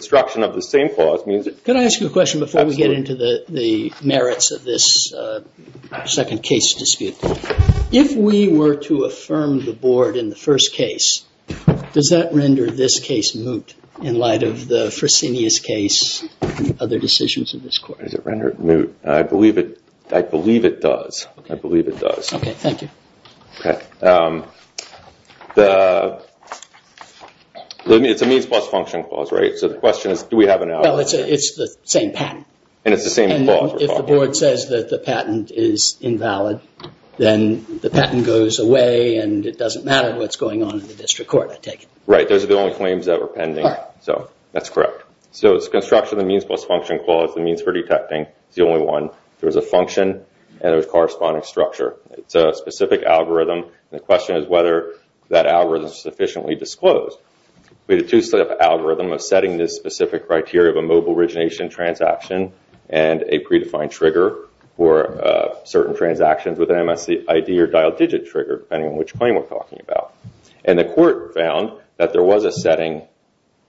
If we were to affirm the board in the first case, does that render this case moot in light of the Fresenius case and other decisions in this court? I believe it does. It's a means plus function clause, right? So the question is, do we have an outlier? Well, it's the same patent. And it's the same clause. If the board says that the patent is invalid, then the patent goes away and it doesn't matter what's going on in the district court, I take it. Right. Those are the only claims that were pending. So that's correct. So it's construction of the means plus function clause. The means for detecting is the only one. There was a function and there was corresponding structure. It's a specific algorithm. The question is whether that algorithm is sufficiently disclosed. We had a two-step algorithm of setting this specific criteria of a mobile origination transaction and a predefined trigger for certain transactions with an MSID or dialed digit trigger, depending on which claim we're talking about. And the court found that there was a setting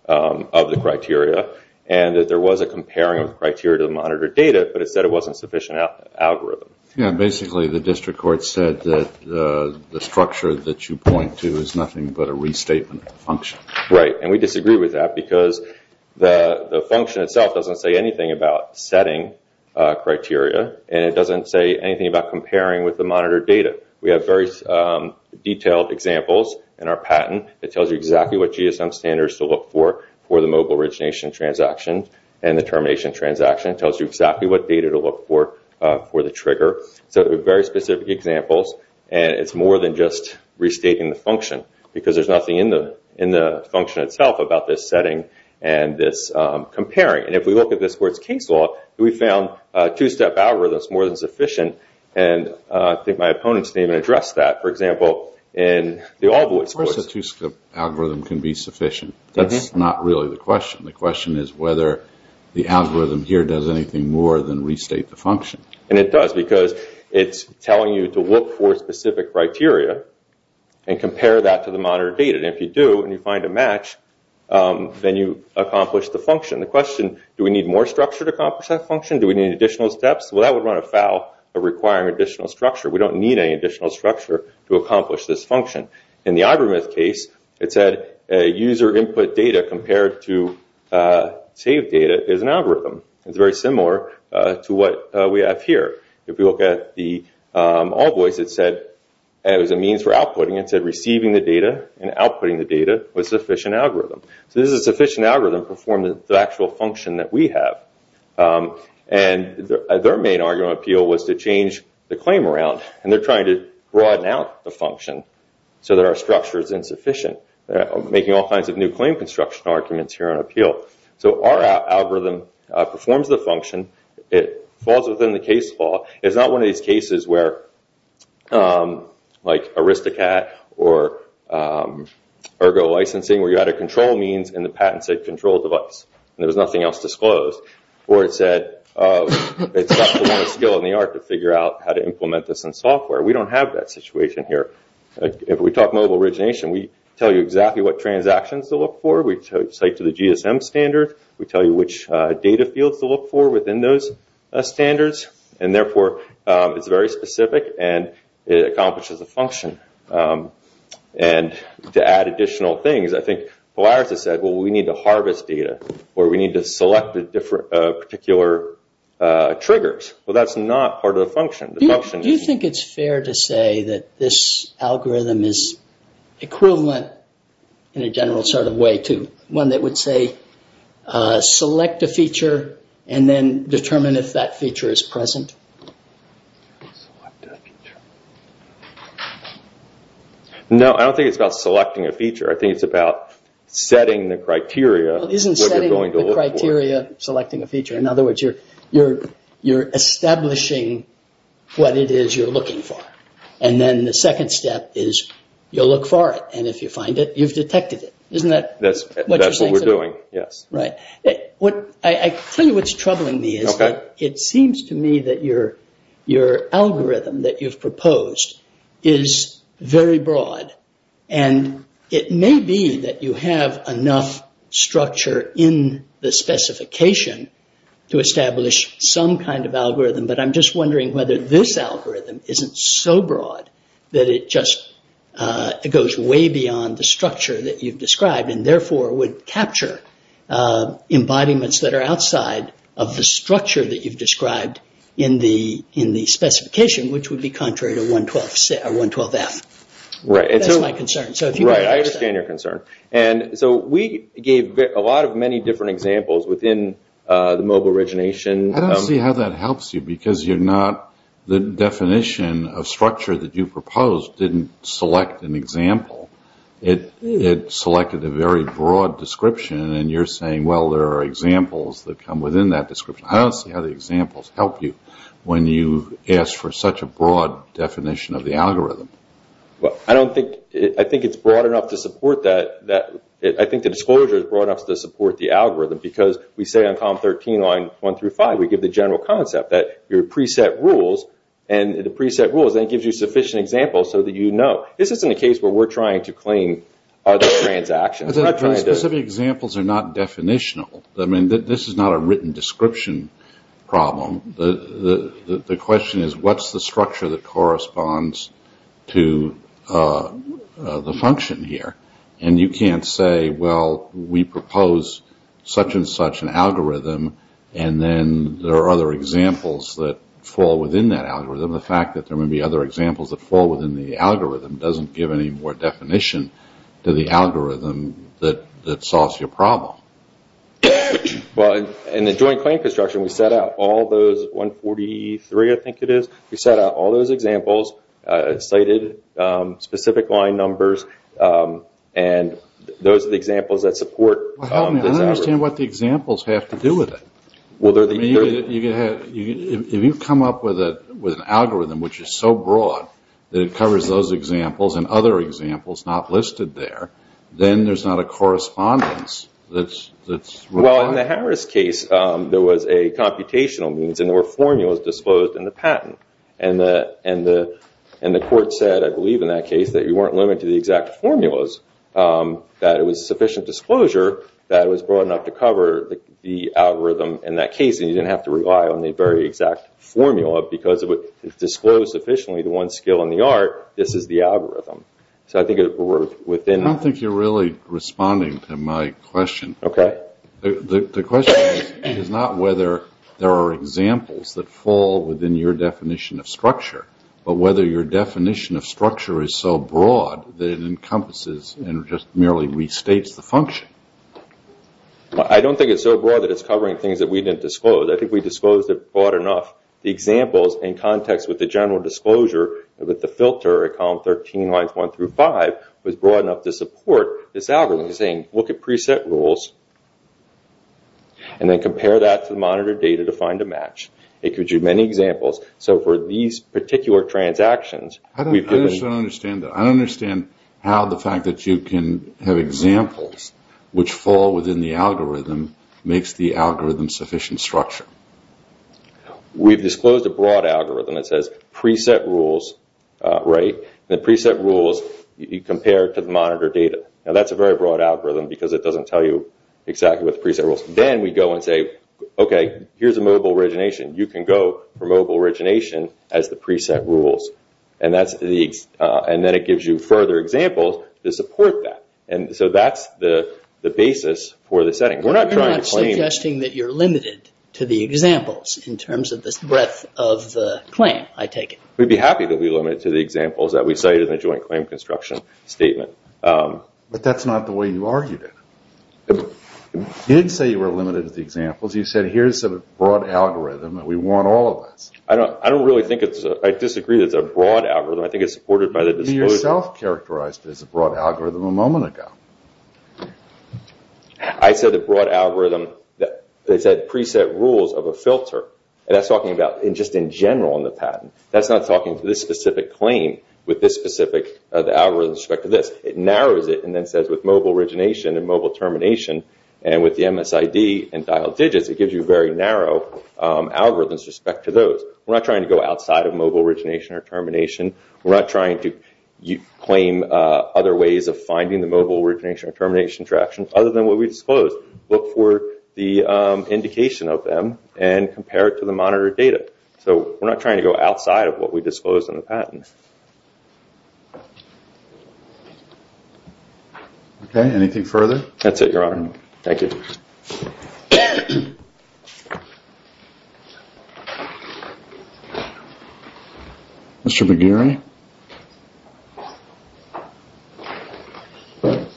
of the criteria and that there was a comparing of the criteria to the monitored data, but it said it wasn't a sufficient algorithm. Yeah. Basically, the district court said that the structure that you point to is nothing but a restatement function. Right. And we disagree with that because the function itself doesn't say anything about setting criteria and it doesn't say anything about comparing with the monitored data. We have very detailed examples in our patent that tells you exactly what GSM standards to look for for the mobile origination transaction and the termination transaction. It tells you exactly what data to look for for the trigger. So very specific examples. And it's more than just restating the function because there's nothing in the function itself about this setting and this comparing. And if we look at this where it's case law, we found two-step algorithms more than sufficient. And I think my opponents didn't even address that. For example, in the Allwoods course. Of course, a two-step algorithm can be sufficient. That's not really the question. The question is whether the algorithm here does anything more than restate the function. And it does because it's telling you to look for specific criteria and compare that to the monitored data. And if you do and you find a match, then you accomplish the function. The question, do we need more structure to accomplish that function? Do we need additional steps? Well, that would run afoul of requiring additional structure. We don't need any additional structure to accomplish this function. In the Ivermouth case, it said user input data compared to saved data is an algorithm. It's very similar to what we have here. If we look at the Allwoods, it said as a means for outputting. It said receiving the data and outputting the data was a sufficient algorithm. So this is a sufficient algorithm to perform the actual function that we have. And their main argument of appeal was to change the claim around. And they're trying to broaden out the function so that our structure is insufficient. They're making all kinds of new claim construction arguments here on appeal. So our algorithm performs the function. It falls within the case law. It's not one of these cases where, like Aristocat or ergo licensing, where you had a control means and the patent said control device and there was nothing else disclosed. Or it said it's got the skill and the art to figure out how to implement this in software. We don't have that situation here. If we talk mobile origination, we tell you exactly what transactions to look for. We cite to the GSM standard. We tell you which data fields to look for within those standards. And therefore, it's very specific and it accomplishes the function. And to add additional things, I think Polaris has said, well, we need to harvest data. Or we need to select particular triggers. Well, that's not part of the function. Do you think it's fair to say that this algorithm is equivalent in a general sort of way to one that would say select a feature and then determine if that feature is present? No, I don't think it's about selecting a feature. I think it's about setting the criteria. Isn't setting the criteria selecting a feature? In other words, you're establishing what it is you're looking for. And then the second step is you'll look for it. And if you find it, you've detected it. Isn't that what you're saying? That's what we're doing, yes. Right. I tell you what's troubling me is that it seems to me that your algorithm that you've in the specification to establish some kind of algorithm. But I'm just wondering whether this algorithm isn't so broad that it just goes way beyond the structure that you've described and therefore would capture embodiments that are outside of the structure that you've described in the specification, which would be contrary to 112F. Right. That's my concern. So if you want to... I understand your concern. And so we gave a lot of many different examples within the mobile origination. I don't see how that helps you because you're not... The definition of structure that you proposed didn't select an example. It selected a very broad description and you're saying, well, there are examples that come within that description. I don't see how the examples help you when you ask for such a broad definition of the algorithm. Well, I don't think... I think it's broad enough to support that. I think the disclosure is broad enough to support the algorithm because we say on COM13 line 1 through 5, we give the general concept that your preset rules and the preset rules then gives you sufficient examples so that you know. This isn't a case where we're trying to claim other transactions. The specific examples are not definitional. I mean, this is not a written description problem. The question is, what's the structure that corresponds to the function here? And you can't say, well, we propose such and such an algorithm and then there are other examples that fall within that algorithm. The fact that there may be other examples that fall within the algorithm doesn't give any more definition to the algorithm that solves your problem. Well, in the joint claim construction, we set out all those, 143 I think it is, we set out all those examples, cited specific line numbers, and those are the examples that support this algorithm. Well, help me. I don't understand what the examples have to do with it. If you come up with an algorithm which is so broad that it covers those examples and other examples not listed there, then there's not a correspondence that's required. Well, in the Harris case, there was a computational means and there were formulas disclosed in the patent. And the court said, I believe in that case, that you weren't limited to the exact formulas, that it was sufficient disclosure that it was broad enough to cover the algorithm in that case and you didn't have to rely on the very exact formula because it disclosed sufficiently the one skill in the art, this is the algorithm. So I think we're within... I don't think you're really responding to my question. Okay. The question is not whether there are examples that fall within your definition of structure, but whether your definition of structure is so broad that it encompasses and just merely restates the function. I don't think it's so broad that it's covering things that we didn't disclose. I think we disclosed it broad enough. The examples in context with the general disclosure with the filter at column 13 lines 1 through 5 was broad enough to support this algorithm saying, look at preset rules and then compare that to the monitored data to find a match. It could do many examples. So for these particular transactions, we've given... I just don't understand that. I don't understand how the fact that you can have examples which fall within the algorithm makes the algorithm sufficient structure. So we've disclosed a broad algorithm that says preset rules, right? And the preset rules, you compare it to the monitored data. Now that's a very broad algorithm because it doesn't tell you exactly what the preset rules. Then we go and say, okay, here's a mobile origination. You can go for mobile origination as the preset rules. And then it gives you further examples to support that. And so that's the basis for the setting. You're not suggesting that you're limited to the examples in terms of the breadth of the claim, I take it. We'd be happy to be limited to the examples that we cited in the joint claim construction statement. But that's not the way you argued it. You didn't say you were limited to the examples. You said, here's a broad algorithm that we want all of us. I don't really think it's... I disagree that it's a broad algorithm. I think it's supported by the disclosure. You yourself characterized it as a broad algorithm a moment ago. I said the broad algorithm, they said preset rules of a filter. And that's talking about just in general in the patent. That's not talking to this specific claim with this specific algorithm with respect to this. It narrows it and then says with mobile origination and mobile termination and with the MSID and dialed digits, it gives you very narrow algorithms with respect to those. We're not trying to go outside of mobile origination or termination. We're not trying to claim other ways of finding the mobile origination or termination traction other than what we disclosed. Look for the indication of them and compare it to the monitored data. So we're not trying to go outside of what we disclosed in the patent. Okay. Anything further? That's it, Your Honor. Thank you. Mr. McGeary. Good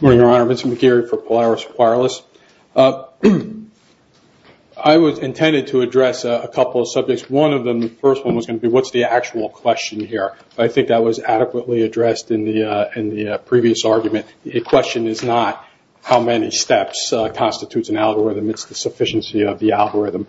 morning, Your Honor. Mr. McGeary for Polaris Wireless. I was intended to address a couple of subjects. One of them, the first one was going to be what's the actual question here. I think that was adequately addressed in the previous argument. The question is not how many steps constitutes an algorithm. It's the sufficiency of the algorithm.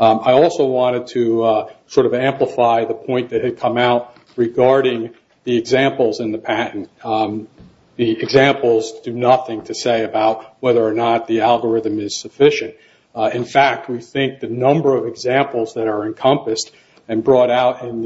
I also wanted to sort of amplify the point that had come out regarding the examples in the patent. The examples do nothing to say about whether or not the algorithm is sufficient. In fact, we think the number of examples that are encompassed and brought out in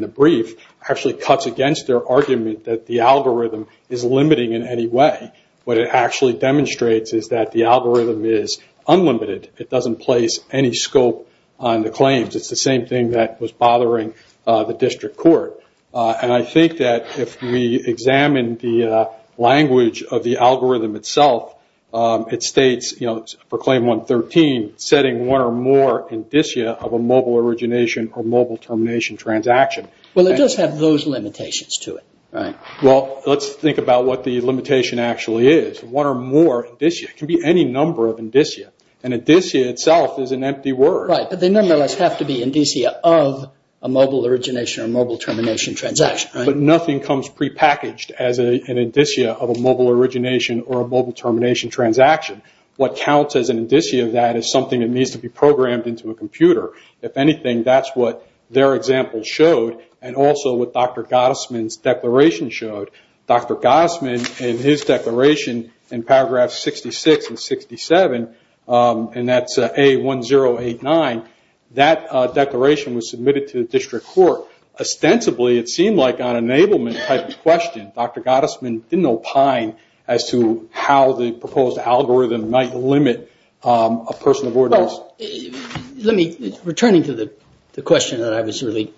the brief actually cuts against their argument that the algorithm is limiting in any way. What it actually demonstrates is that the algorithm is unlimited. It doesn't place any scope on the claims. It's the same thing that was bothering the district court. And I think that if we examine the language of the algorithm itself, it states, you know, for claim 113, setting one or more indicia of a mobile origination or mobile termination transaction. Well, it does have those limitations to it, right? Well, let's think about what the limitation actually is. One or more indicia. It can be any number of indicia. An indicia itself is an empty word. Right, but they nonetheless have to be indicia of a mobile origination or mobile termination transaction, right? But nothing comes prepackaged as an indicia of a mobile origination or a mobile termination transaction. What counts as an indicia of that is something that needs to be programmed into a computer. If anything, that's what their example showed and also what Dr. Gottesman's declaration showed. Dr. Gottesman in his declaration in paragraphs 66 and 67, and that's A1089, that declaration was submitted to the district court. Ostensibly, it seemed like an enablement type of question. Dr. Gottesman didn't opine as to how the proposed algorithm might limit a person of origin. Well, returning to the question that I was really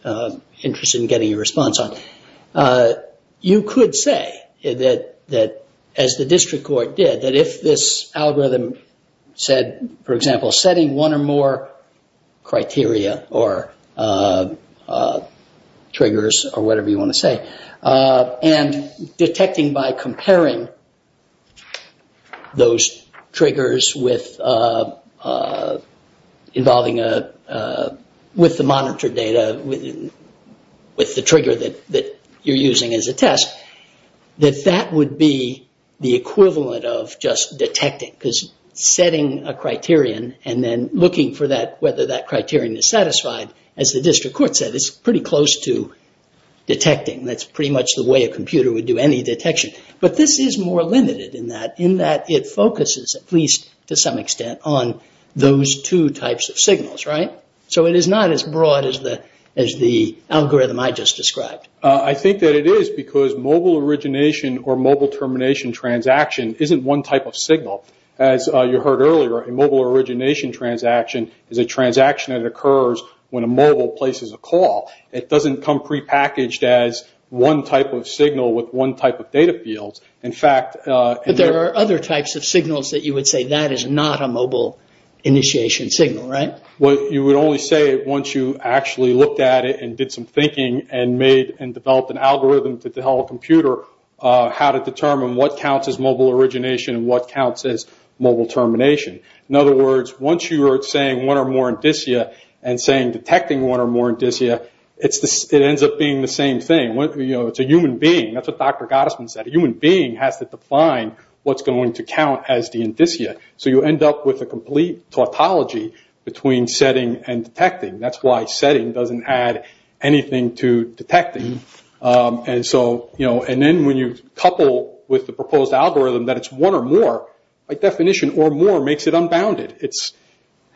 interested in getting a response on, you could say that, as the district court did, that if this algorithm said, for example, setting one or more criteria or triggers or whatever you want to say, and detecting by involving with the monitored data with the trigger that you're using as a test, that that would be the equivalent of just detecting because setting a criterion and then looking for whether that criterion is satisfied, as the district court said, is pretty close to detecting. That's pretty much the way a computer would do any detection. But this is more limited in that it focuses, at least to some extent, on those two types of signals, right? So it is not as broad as the algorithm I just described. I think that it is because mobile origination or mobile termination transaction isn't one type of signal. As you heard earlier, a mobile origination transaction is a transaction that occurs when a mobile places a call. It doesn't come prepackaged as one type of signal with one type of data field. There are other types of signals that you would say that is not a mobile initiation signal, right? You would only say it once you actually looked at it and did some thinking and developed an algorithm to tell a computer how to determine what counts as mobile origination and what counts as mobile termination. In other words, once you are saying one or more indicia and saying detecting one or more indicia, it ends up being the same thing. It's a human being. That's what Dr. Gottesman said. A human being has to define what's going to count as the indicia. So you end up with a complete tautology between setting and detecting. That's why setting doesn't add anything to detecting. And then when you couple with the proposed algorithm that it's one or more, by definition or more makes it unbounded.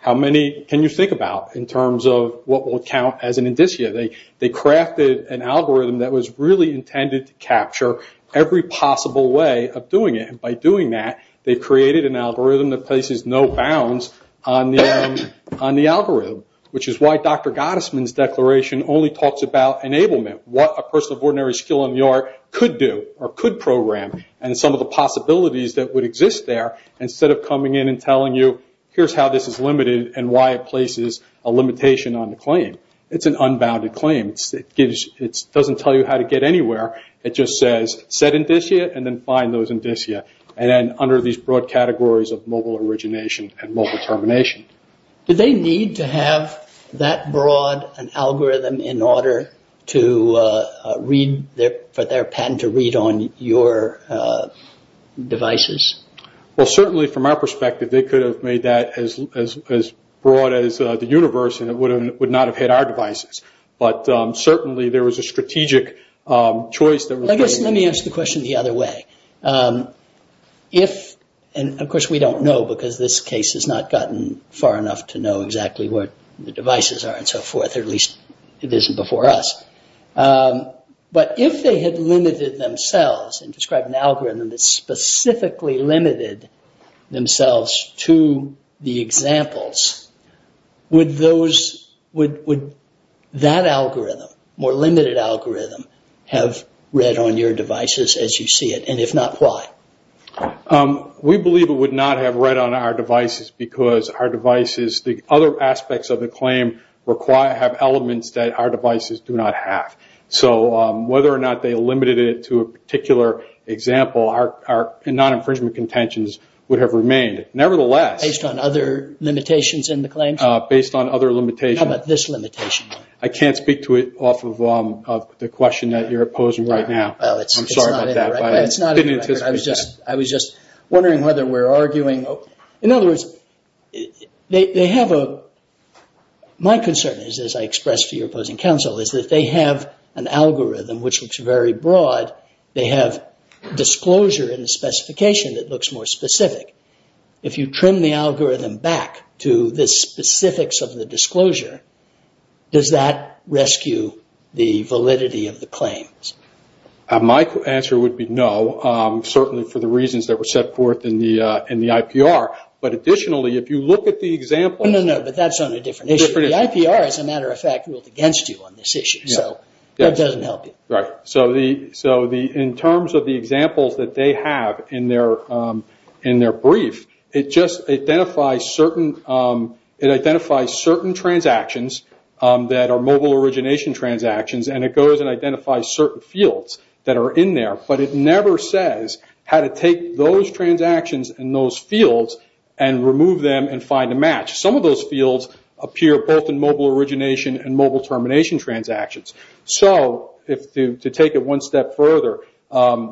How many can you think about in terms of what will count as an indicia? They crafted an algorithm that was really intended to capture every possible way of doing it. By doing that, they created an algorithm that places no bounds on the algorithm, which is why Dr. Gottesman's declaration only talks about enablement. What a person of ordinary skill in the art could do or could program and some of the Here's how this is limited and why it places a limitation on the claim. It's an unbounded claim. It doesn't tell you how to get anywhere. It just says set indicia and then find those indicia and then under these broad categories of mobile origination and mobile termination. Do they need to have that broad an algorithm in order for their patent to read on your devices? Well, certainly from our perspective, they could have made that as broad as the universe and it would not have hit our devices. But certainly there was a strategic choice. Let me ask the question the other way. Of course, we don't know because this case has not gotten far enough to know exactly what the devices are and so forth, or at least it isn't before us. But if they had limited themselves and described an algorithm that specifically limited themselves to the examples, would that algorithm, more limited algorithm, have read on your devices as you see it? And if not, why? We believe it would not have read on our devices because our devices, the other aspects of the claim, have elements that our devices do not have. So whether or not they limited it to a particular example, our non-infringement contentions would have remained. Nevertheless... Based on other limitations in the claim? Based on other limitations. How about this limitation? I can't speak to it off of the question that you're posing right now. I'm sorry about that. I was just wondering whether we're arguing... In other words, they have a... My concern is, as I expressed to your opposing counsel, is that they have an algorithm which looks very broad. They have disclosure and a specification that looks more specific. If you trim the algorithm back to the specifics of the disclosure, does that rescue the validity of the claims? My answer would be no, certainly for the reasons that were set forth in the IPR. Additionally, if you look at the example... No, but that's on a different issue. The IPR, as a matter of fact, ruled against you on this issue. So that doesn't help you. Right. In terms of the examples that they have in their brief, it identifies certain transactions that are mobile origination transactions, and it goes and identifies certain fields that are in there. But it never says how to take those transactions and those fields and remove them and find a match. Some of those fields appear both in mobile origination and mobile termination transactions. To take it one step further,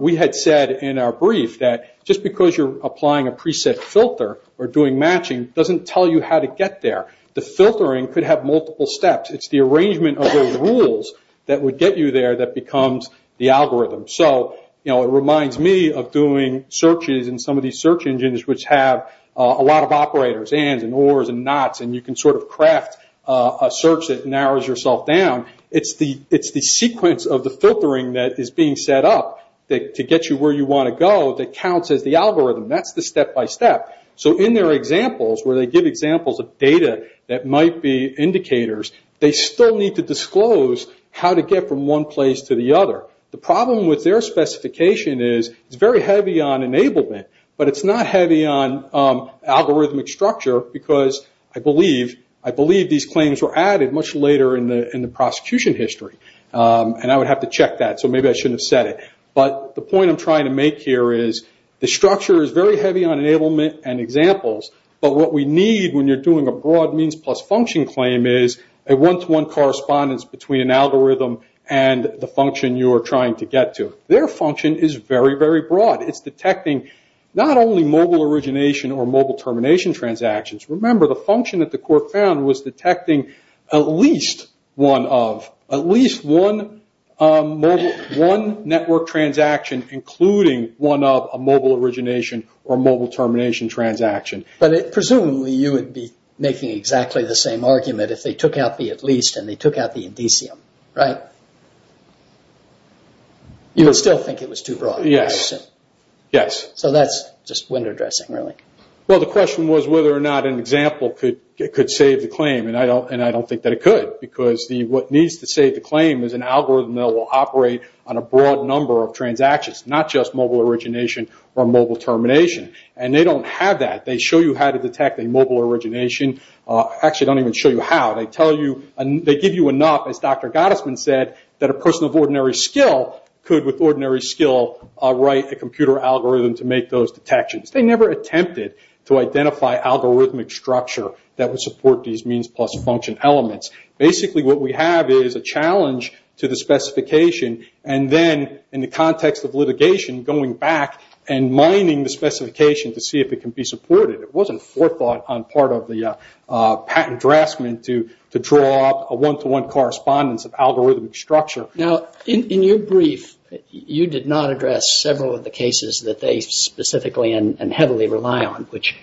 we had said in our brief that just because you're applying a preset filter or doing matching doesn't tell you how to get there. The filtering could have multiple steps. It's the arrangement of those rules that would get you there that becomes the algorithm. It reminds me of doing searches in some of these search engines which have a lot of operators, ANDs and ORs and NOTs, and you can craft a search that narrows yourself down. It's the sequence of the filtering that is being set up to get you where you want to go that counts as the algorithm. That's the step-by-step. In their examples, where they give examples of data that might be indicators, they still need to disclose how to get from one place to the other. The problem with their specification is it's very heavy on enablement, but it's not heavy on algorithmic structure because I believe these claims were added much later in the prosecution history. I would have to check that, so maybe I shouldn't have said it. The point I'm trying to make here is the structure is very heavy on enablement and examples, but what we need when you're doing a broad means plus function claim is a one-to-one correspondence between an algorithm and the function you are trying to get to. Their function is very, very broad. It's detecting not only mobile origination or mobile termination transactions. Remember, the function that the court found was detecting at least one of. At least one network transaction including one of a mobile origination or mobile termination transaction. But presumably you would be making exactly the same argument if they took out the at the indicium, right? You would still think it was too broad. Yes, yes. So that's just window dressing really. Well, the question was whether or not an example could save the claim, and I don't think that it could because what needs to save the claim is an algorithm that will operate on a broad number of transactions, not just mobile origination or mobile termination. They don't have that. They show you how to detect a mobile origination. Actually, they don't even show you how. They give you enough, as Dr. Gottesman said, that a person of ordinary skill could with ordinary skill write a computer algorithm to make those detections. They never attempted to identify algorithmic structure that would support these means plus function elements. Basically what we have is a challenge to the specification and then in the context of litigation going back and mining the specification to see if it can be supported. It wasn't forethought on part of the patent draftsman to draw a one-to-one correspondence of algorithmic structure. Now, in your brief, you did not address several of the cases that they specifically and heavily rely on, which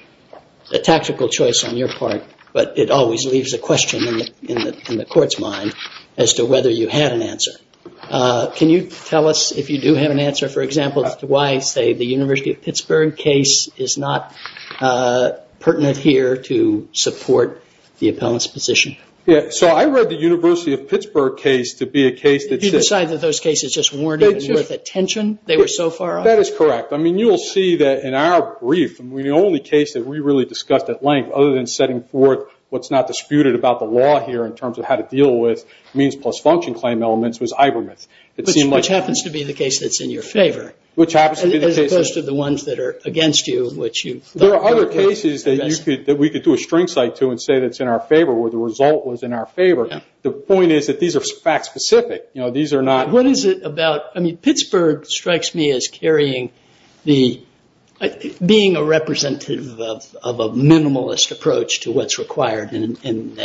is a tactical choice on your part, but it always leaves a question in the court's mind as to whether you had an answer. Can you tell us if you do have an answer, for example, as to why, say, the University of Pittsburgh case is not pertinent here to support the appellant's position? Yes. So I read the University of Pittsburgh case to be a case that... Did you decide that those cases just weren't even worth attention? They were so far off? That is correct. I mean, you will see that in our brief, the only case that we really discussed at length, other than setting forth what's not disputed about the law here in terms of how to deal with means plus function claim elements, was Ivermouth. It seemed like... Which happens to be the case that's in your favor. Which happens to be the case... The ones that are against you, which you... There are other cases that we could do a string site to and say that it's in our favor, where the result was in our favor. The point is that these are fact specific. You know, these are not... What is it about... I mean, Pittsburgh strikes me as carrying the... being a representative of a minimalist approach to what's required in an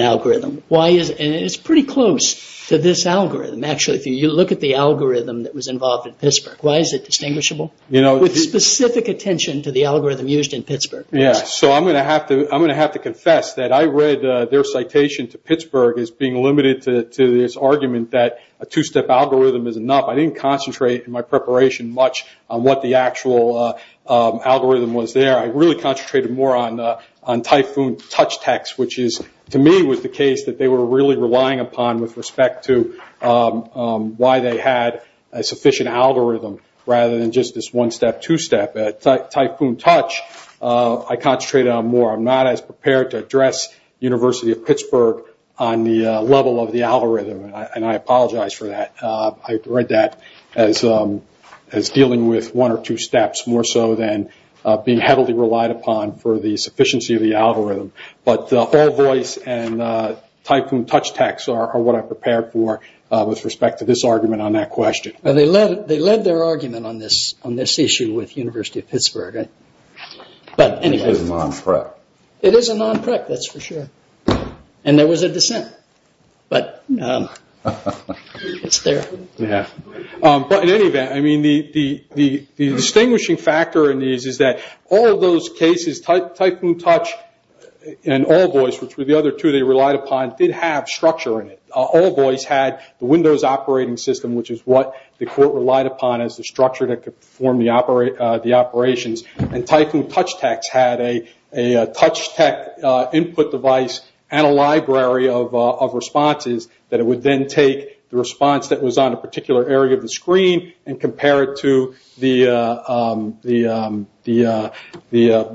algorithm. Why is... And it's pretty close to this algorithm. Actually, if you look at the algorithm that was involved in Pittsburgh, why is it distinguishable? You know... With specific attention to the algorithm used in Pittsburgh. Yeah, so I'm going to have to confess that I read their citation to Pittsburgh as being limited to this argument that a two-step algorithm is enough. I didn't concentrate in my preparation much on what the actual algorithm was there. I really concentrated more on typhoon touch text, which is, to me, was the case that they were really relying upon with respect to why they had a sufficient algorithm, rather than just this one-step, two-step. Typhoon touch, I concentrated on more. I'm not as prepared to address University of Pittsburgh on the level of the algorithm. And I apologize for that. I read that as dealing with one or two steps more so than being heavily relied upon for the sufficiency of the algorithm. But the hall voice and typhoon touch text are what I prepared for with respect to this argument on that question. And they led their argument on this issue with University of Pittsburgh. But anyway... It is a non-prep. It is a non-prep, that's for sure. And there was a dissent, but it's there. Yeah. But in any event, I mean, the distinguishing factor in these is that all those cases, typhoon touch and hall voice, which were the other two they relied upon, did have structure in it. Hall voice had the Windows operating system, which is what the court relied upon as the structure that could perform the operations. And typhoon touch text had a touch text input device and a library of responses that it would then take the response that was on a particular area of the screen and compare it to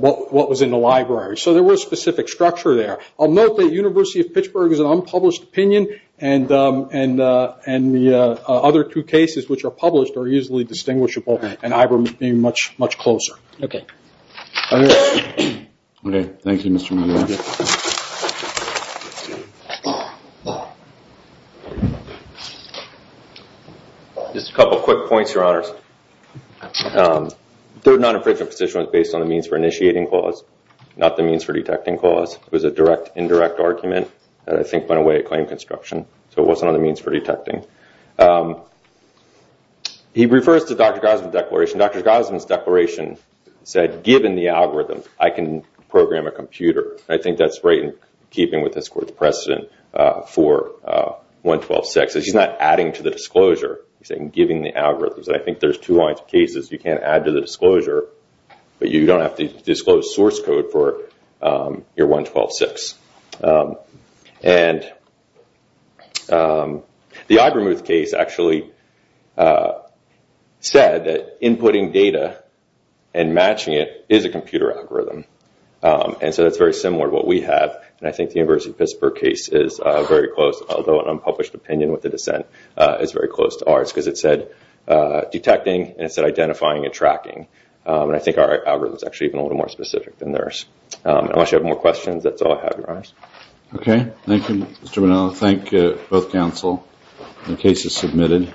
what was in the library. So there was specific structure there. I'll note that University of Pittsburgh is an unpublished opinion, and the other two cases which are published are easily distinguishable, and I remember being much, much closer. Okay. Okay. Thank you, Mr. Mayor. Just a couple quick points, your honors. Third non-infringement petition was based on the means for initiating clause, not the means for detecting clause. It was a direct indirect argument that I think went away at claim construction, so it wasn't on the means for detecting. He refers to Dr. Gosman's declaration. Dr. Gosman's declaration said, given the algorithm, I can program a computer. I think that's right in keeping with this court's precedent for 112.6. He's not adding to the disclosure. He's giving the algorithms. I think there's two lines of cases you can add to the disclosure, but you don't have to disclose source code for your 112.6. And the Ibermuth case actually said that inputting data and matching it is a computer algorithm, and so that's very similar to what we have, and I think the University of Pittsburgh case is very close, although an unpublished opinion with the dissent is very close to ours because it said detecting, and it said identifying and tracking, and I think our algorithm is actually even a little more specific than theirs. Unless you have more questions, that's all I have, your honors. Okay. Thank you, Mr. Monello. Thank you, both counsel. The case is submitted.